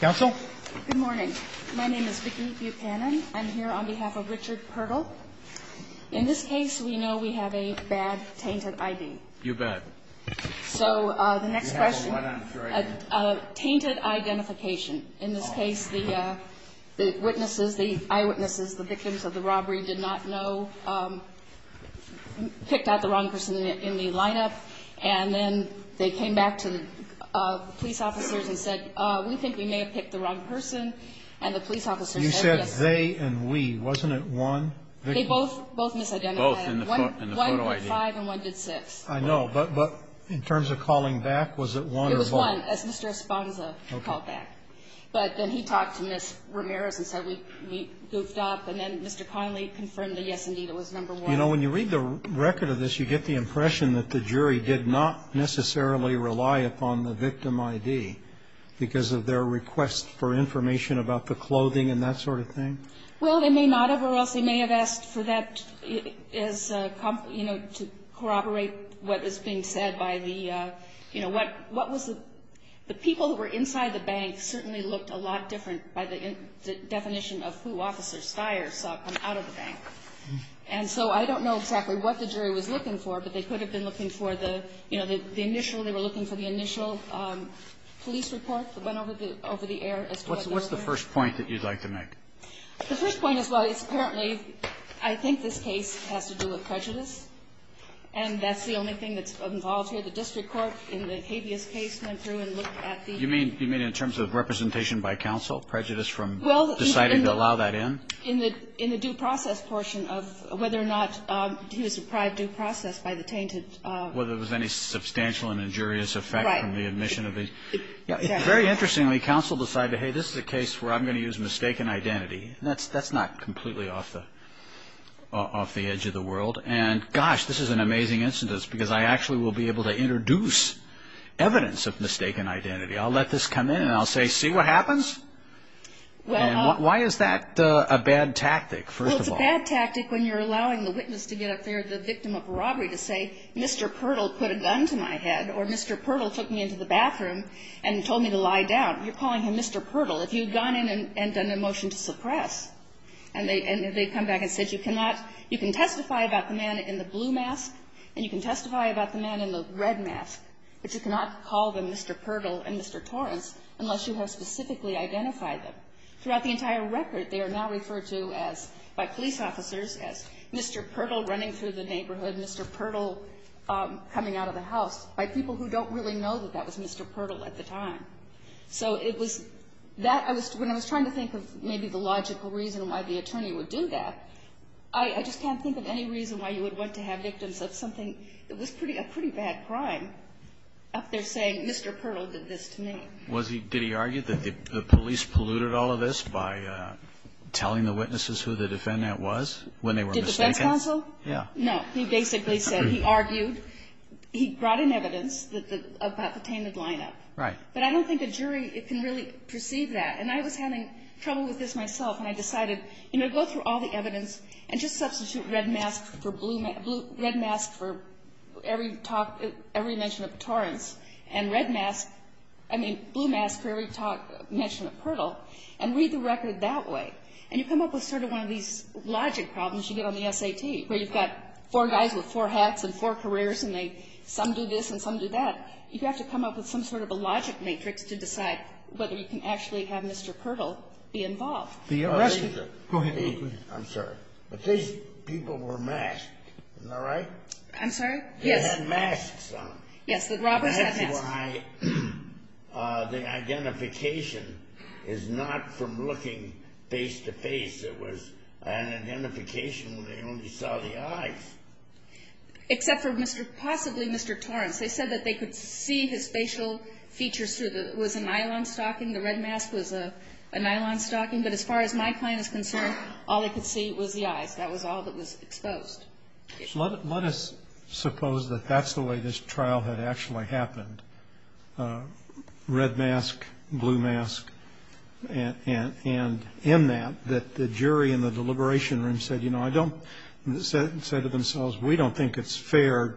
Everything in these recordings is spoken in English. Counsel? Good morning. My name is Vicki Buchanan. I'm here on behalf of Richard Pirtle. In this case, we know we have a bad, tainted ID. You're bad. So, the next question. You have a what, I'm sorry? A tainted identification. In this case, the eyewitnesses, the victims of the robbery, did not know, picked out the wrong person in the lineup, and then they came back to the police officers and said, we think we may have picked the wrong person, and the police officers said yes. You said they and we. Wasn't it one victim? They both misidentified. Both in the photo ID. One did five and one did six. I know, but in terms of calling back, was it one or both? It was one, as Mr. Esponza called back. But then he talked to Ms. Ramirez and said we goofed up, and then Mr. Connolly confirmed that, yes, indeed, it was number one. You know, when you read the record of this, you get the impression that the jury did not necessarily rely upon the victim ID because of their request for information about the clothing and that sort of thing? Well, they may not have, or else they may have asked for that as, you know, to corroborate what is being said by the, you know, what was the, the people who were inside the bank certainly looked a lot different by the definition of who Officer Steyer saw come out of the bank. And so I don't know exactly what the jury was looking for, but they could have been looking for the, you know, the initial, they were looking for the initial police report that went over the air. What's the first point that you'd like to make? The first point is, well, it's apparently, I think this case has to do with prejudice, and that's the only thing that's involved here. The district court in the habeas case went through and looked at the. You mean in terms of representation by counsel, prejudice from deciding to allow that in? In the due process portion of whether or not he was deprived due process by the tainted. Whether there was any substantial and injurious effect from the admission of. Very interestingly, counsel decided, hey, this is a case where I'm going to use mistaken identity. That's not completely off the edge of the world. And gosh, this is an amazing instance, because I actually will be able to introduce evidence of mistaken identity. I'll let this come in, and I'll say, see what happens? And why is that a bad tactic, first of all? Well, it's a bad tactic when you're allowing the witness to get up there, the victim of robbery, to say, Mr. Pirtle put a gun to my head, or Mr. Pirtle took me into the bathroom and told me to lie down. You're calling him Mr. Pirtle. If you had gone in and done a motion to suppress, and they come back and said, you cannot, you can testify about the man in the blue mask, and you can testify about the man in the red mask, but you cannot call them Mr. Pirtle and Mr. Torres unless you have specifically identified them. Throughout the entire record, they are now referred to as, by police officers, as Mr. Pirtle running through the neighborhood, Mr. Pirtle coming out of the house, by people who don't really know that that was Mr. Pirtle at the time. So it was that, when I was trying to think of maybe the logical reason why the attorney would do that, I just can't think of any reason why you would want to have victims of something that was a pretty bad crime up there saying, Mr. Pirtle did this to me. Was he, did he argue that the police polluted all of this by telling the witnesses who the defendant was when they were mistaken? Did the defense counsel? Yeah. No. He basically said, he argued, he brought in evidence about the tainted lineup. Right. But I don't think a jury can really perceive that. And I was having trouble with this myself, and I decided, you know, go through all the evidence and just substitute red mask for blue, red mask for every talk, every mention of Torres. And red mask, I mean, blue mask for every talk, mention of Pirtle. And read the record that way. And you come up with sort of one of these logic problems you get on the SAT, where you've got four guys with four hats and four careers, and they, some do this and some do that. You have to come up with some sort of a logic matrix to decide whether you can actually have Mr. Pirtle be involved. The arrest. Go ahead. I'm sorry. But these people were masked. Isn't that right? I'm sorry? Yes. They had masks on. Yes, the robbers had masks. That's why the identification is not from looking face-to-face. It was an identification where they only saw the eyes. Except for possibly Mr. Torres. They said that they could see his facial features through the, it was a nylon stocking, the red mask was a nylon stocking. But as far as my client is concerned, all they could see was the eyes. That was all that was exposed. Let us suppose that that's the way this trial had actually happened. Red mask, blue mask. And in that, that the jury in the deliberation room said, you know, I don't, said to themselves, we don't think it's fair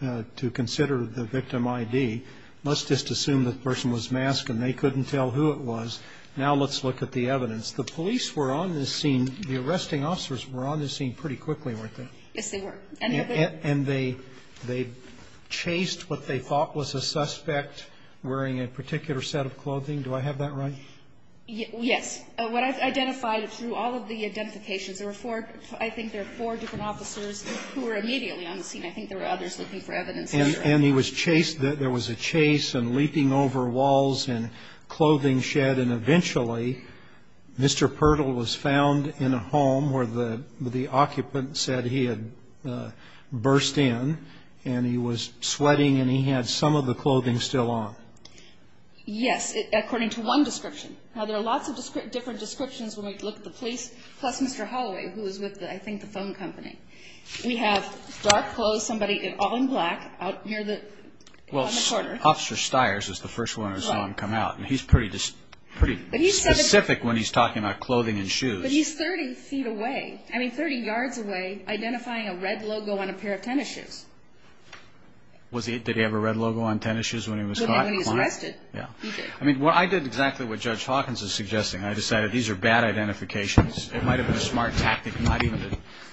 to consider the victim ID. Let's just assume the person was masked and they couldn't tell who it was. Now let's look at the evidence. The police were on this scene, the arresting officers were on this scene pretty quickly, weren't they? Yes, they were. And they chased what they thought was a suspect wearing a particular set of clothing. Do I have that right? Yes. What I've identified through all of the identifications, there were four, I think there were four different officers who were immediately on the scene. I think there were others looking for evidence. And he was chased, there was a chase and leaping over walls and clothing shed. And then eventually Mr. Pirtle was found in a home where the occupant said he had burst in and he was sweating and he had some of the clothing still on. Yes, according to one description. Now there are lots of different descriptions when we look at the police, plus Mr. Holloway, who was with, I think, the phone company. We have dark clothes, somebody in all in black out near the corner. Officer Stiers is the first one I saw him come out. And he's pretty specific when he's talking about clothing and shoes. But he's 30 feet away, I mean 30 yards away, identifying a red logo on a pair of tennis shoes. Did he have a red logo on tennis shoes when he was caught? When he was arrested, he did. I did exactly what Judge Hawkins is suggesting. I decided these are bad identifications. It might have been a smart tactic not even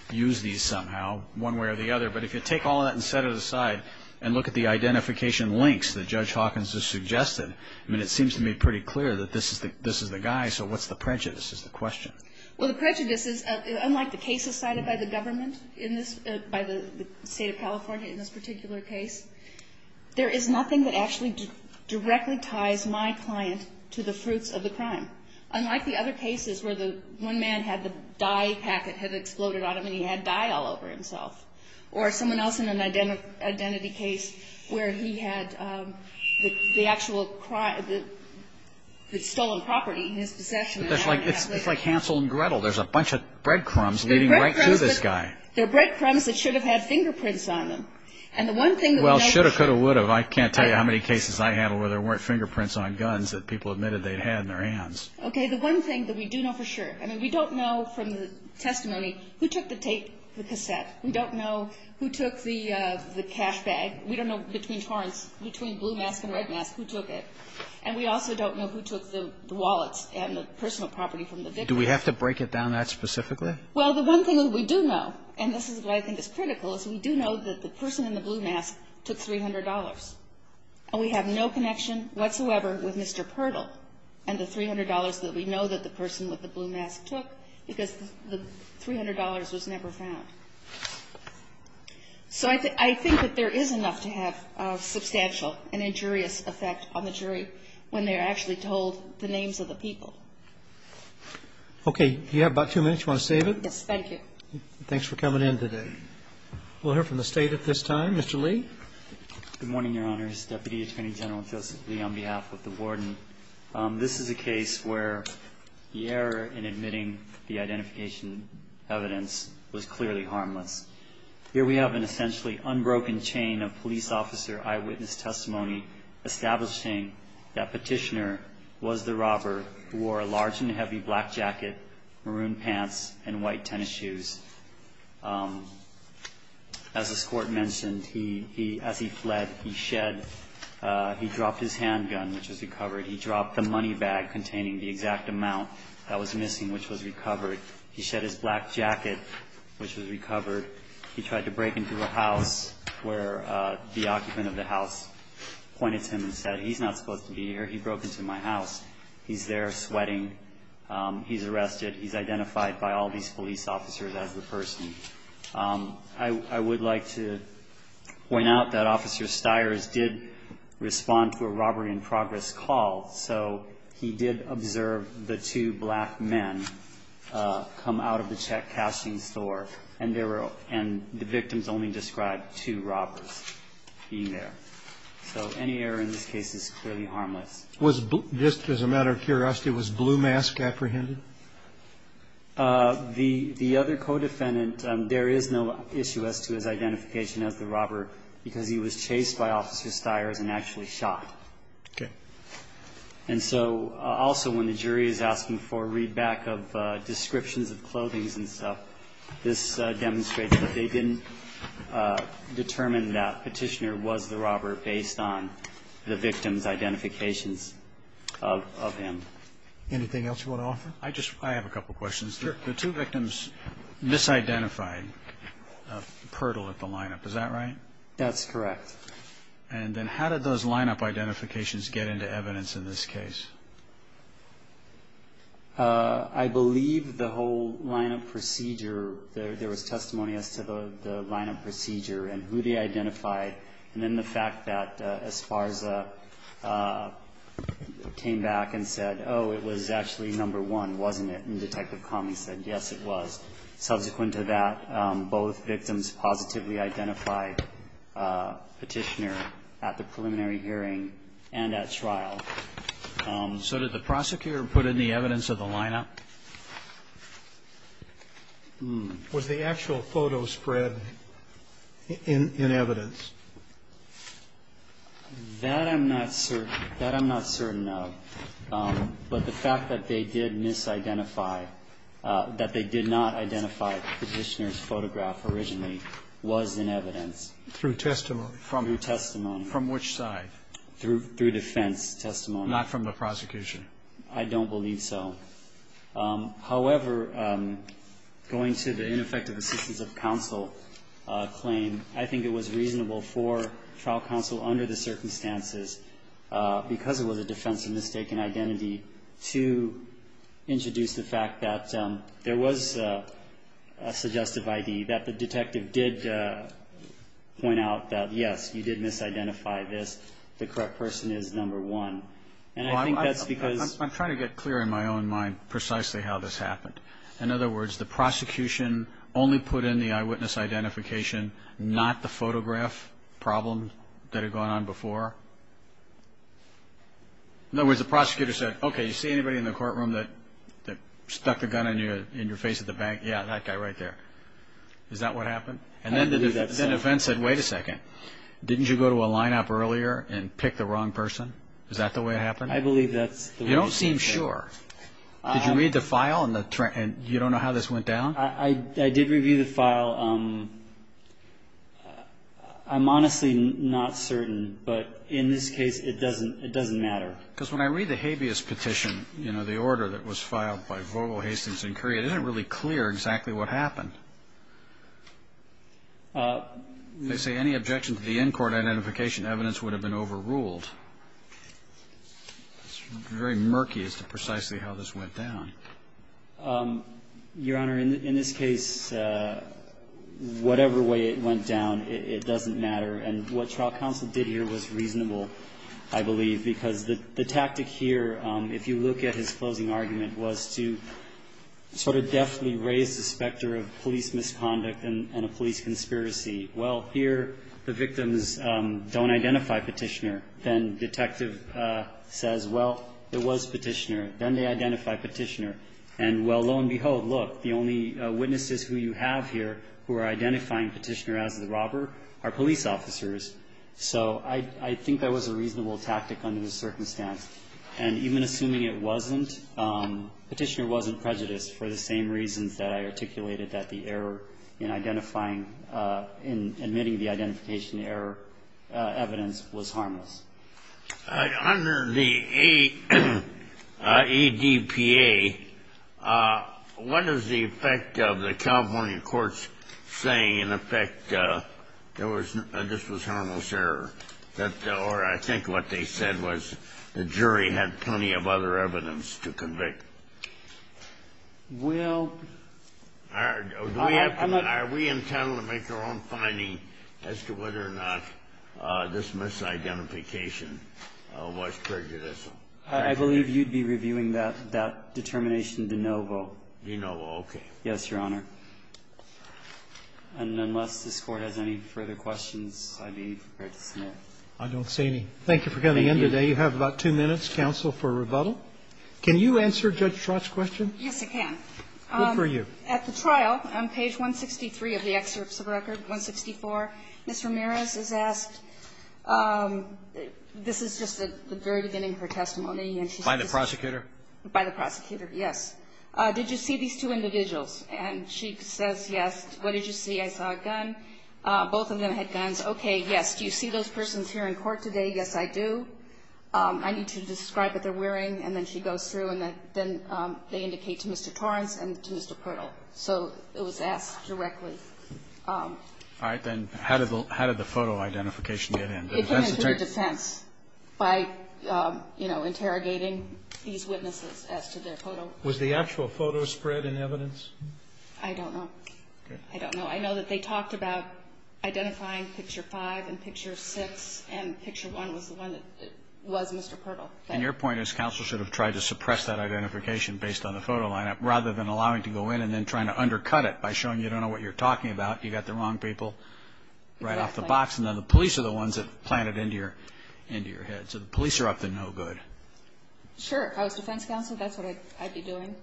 to use these somehow, one way or the other. But if you take all that and set it aside and look at the identification links that Judge Hawkins has suggested, I mean it seems to me pretty clear that this is the guy. So what's the prejudice is the question. Well, the prejudice is, unlike the cases cited by the government in this, by the state of California in this particular case, there is nothing that actually directly ties my client to the fruits of the crime. Unlike the other cases where the one man had the dye packet had exploded on him and he had dye all over himself. Or someone else in an identity case where he had the actual stolen property in his possession. It's like Hansel and Gretel. There's a bunch of breadcrumbs leading right to this guy. They're breadcrumbs that should have had fingerprints on them. Well, should have, could have, would have. I can't tell you how many cases I had where there weren't fingerprints on guns that people admitted they'd had in their hands. Okay, the one thing that we do know for sure, I mean, we don't know from the testimony who took the tape, the cassette. We don't know who took the cash bag. We don't know between Torrance, between Blue Mask and Red Mask, who took it. And we also don't know who took the wallets and the personal property from the victim. Do we have to break it down that specifically? Well, the one thing that we do know, and this is what I think is critical, is we do know that the person in the Blue Mask took $300. And we have no connection whatsoever with Mr. Pirtle and the $300 that we know that the person with the Blue Mask took because the $300 was never found. So I think that there is enough to have substantial and injurious effect on the jury when they're actually told the names of the people. Okay. You have about two minutes. Do you want to save it? Yes, thank you. Thanks for coming in today. We'll hear from the State at this time. Mr. Lee. Good morning, Your Honors. Deputy Attorney General Joseph Lee on behalf of the Board. This is a case where the error in admitting the identification evidence was clearly harmless. Here we have an essentially unbroken chain of police officer eyewitness testimony establishing that Petitioner was the robber who wore a large and heavy black jacket, maroon pants, and white tennis shoes. As this Court mentioned, as he fled, he shed. He dropped his handgun, which was recovered. He dropped the money bag containing the exact amount that was missing, which was recovered. He shed his black jacket, which was recovered. He tried to break into a house where the occupant of the house pointed to him and said, He's not supposed to be here. He broke into my house. He's there sweating. He's arrested. He's identified by all these police officers as the person. I would like to point out that Officer Stiers did respond to a robbery in progress call, so he did observe the two black men come out of the check cashing store, and the victims only described two robbers being there. So any error in this case is clearly harmless. Was just as a matter of curiosity, was Blue Mask apprehended? The other co-defendant, there is no issue as to his identification as the robber because he was chased by Officer Stiers and actually shot. Okay. And so also when the jury is asking for a readback of descriptions of clothings and stuff, this demonstrates that they didn't determine that Petitioner was the robber based on the victim's identifications of him. Anything else you want to offer? I have a couple questions. Sure. The two victims misidentified Pertle at the lineup. Is that right? That's correct. And then how did those lineup identifications get into evidence in this case? I believe the whole lineup procedure, there was testimony as to the lineup procedure and who they identified, and then the fact that Esparza came back and said, oh, it was actually number one, wasn't it? And Detective Comey said, yes, it was. Subsequent to that, both victims positively identified Petitioner at the preliminary hearing and at trial. So did the prosecutor put in the evidence of the lineup? Was the actual photo spread in evidence? That I'm not certain of. But the fact that they did misidentify, that they did not identify Petitioner's photograph originally was in evidence. Through testimony? Through testimony. From which side? Through defense testimony. Not from the prosecution? I don't believe so. However, going to the ineffective assistance of counsel claim, I think it was reasonable for trial counsel under the circumstances, because it was a defensive mistake in identity, to introduce the fact that there was a suggestive ID, that the detective did point out that, yes, you did misidentify this. The correct person is number one. I'm trying to get clear in my own mind precisely how this happened. In other words, the prosecution only put in the eyewitness identification, not the photograph problem that had gone on before? In other words, the prosecutor said, okay, you see anybody in the courtroom that stuck the gun in your face at the bank? Yeah, that guy right there. Is that what happened? And then the defense said, wait a second, didn't you go to a lineup earlier and pick the wrong person? Is that the way it happened? I believe that's the way it happened. You don't seem sure. Did you read the file and you don't know how this went down? I did review the file. I'm honestly not certain, but in this case it doesn't matter. Because when I read the habeas petition, you know, the order that was filed by Vogel, Hastings, and Curry, it isn't really clear exactly what happened. They say any objection to the in-court identification evidence would have been overruled. It's very murky as to precisely how this went down. Your Honor, in this case, whatever way it went down, it doesn't matter. And what trial counsel did here was reasonable, I believe, because the tactic here, if you look at his closing argument, was to sort of deftly raise the specter of police misconduct and a police conspiracy. Well, here the victims don't identify Petitioner. Then detective says, well, it was Petitioner. Then they identify Petitioner. And, well, lo and behold, look, the only witnesses who you have here who are identifying Petitioner as the robber are police officers. So I think that was a reasonable tactic under the circumstance. And even assuming it wasn't, Petitioner wasn't prejudiced for the same reasons that I articulated, that the error in identifying, in admitting the identification error evidence was harmless. Under the ADPA, what is the effect of the California courts saying, in effect, that this was harmless error? Or I think what they said was the jury had plenty of other evidence to convict. Well, I'm not going to. Are we intending to make our own finding as to whether or not this misidentification was prejudiced? I believe you'd be reviewing that determination de novo. De novo. Yes, Your Honor. And unless this Court has any further questions, I'd be prepared to submit. I don't see any. Thank you for coming in today. You have about two minutes, counsel, for rebuttal. Can you answer Judge Trott's question? Yes, I can. Good for you. At the trial, on page 163 of the excerpts of record, 164, Ms. Ramirez is asked this is just the very beginning of her testimony. By the prosecutor? By the prosecutor, yes. Did you see these two individuals? And she says, yes. What did you see? I saw a gun. Both of them had guns. Okay, yes. Do you see those persons here in court today? Yes, I do. I need to describe what they're wearing. And then she goes through, and then they indicate to Mr. Torrence and to Mr. Purtle. So it was asked directly. All right. Then how did the photo identification get in? It came into the defense by, you know, interrogating these witnesses as to their photo. Was the actual photo spread in evidence? I don't know. Okay. I don't know. I know that they talked about identifying picture five and picture six, and picture one was the one that was Mr. Purtle. And your point is counsel should have tried to suppress that identification based on the photo lineup rather than allowing it to go in and then trying to undercut it by showing you don't know what you're talking about. You got the wrong people right off the box. And then the police are the ones that plant it into your head. So the police are up to no good. Sure. I was defense counsel. That's what I'd be doing.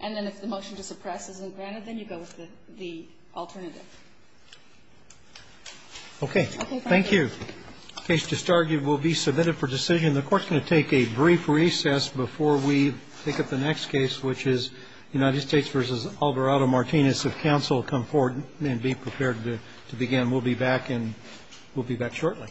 And then if the motion to suppress isn't granted, then you go with the alternative. Okay. Thank you. Case to start. You will be submitted for decision. The Court's going to take a brief recess before we pick up the next case, which is United States v. Alvarado-Martinez. If counsel will come forward and be prepared to begin, we'll be back and we'll be back shortly.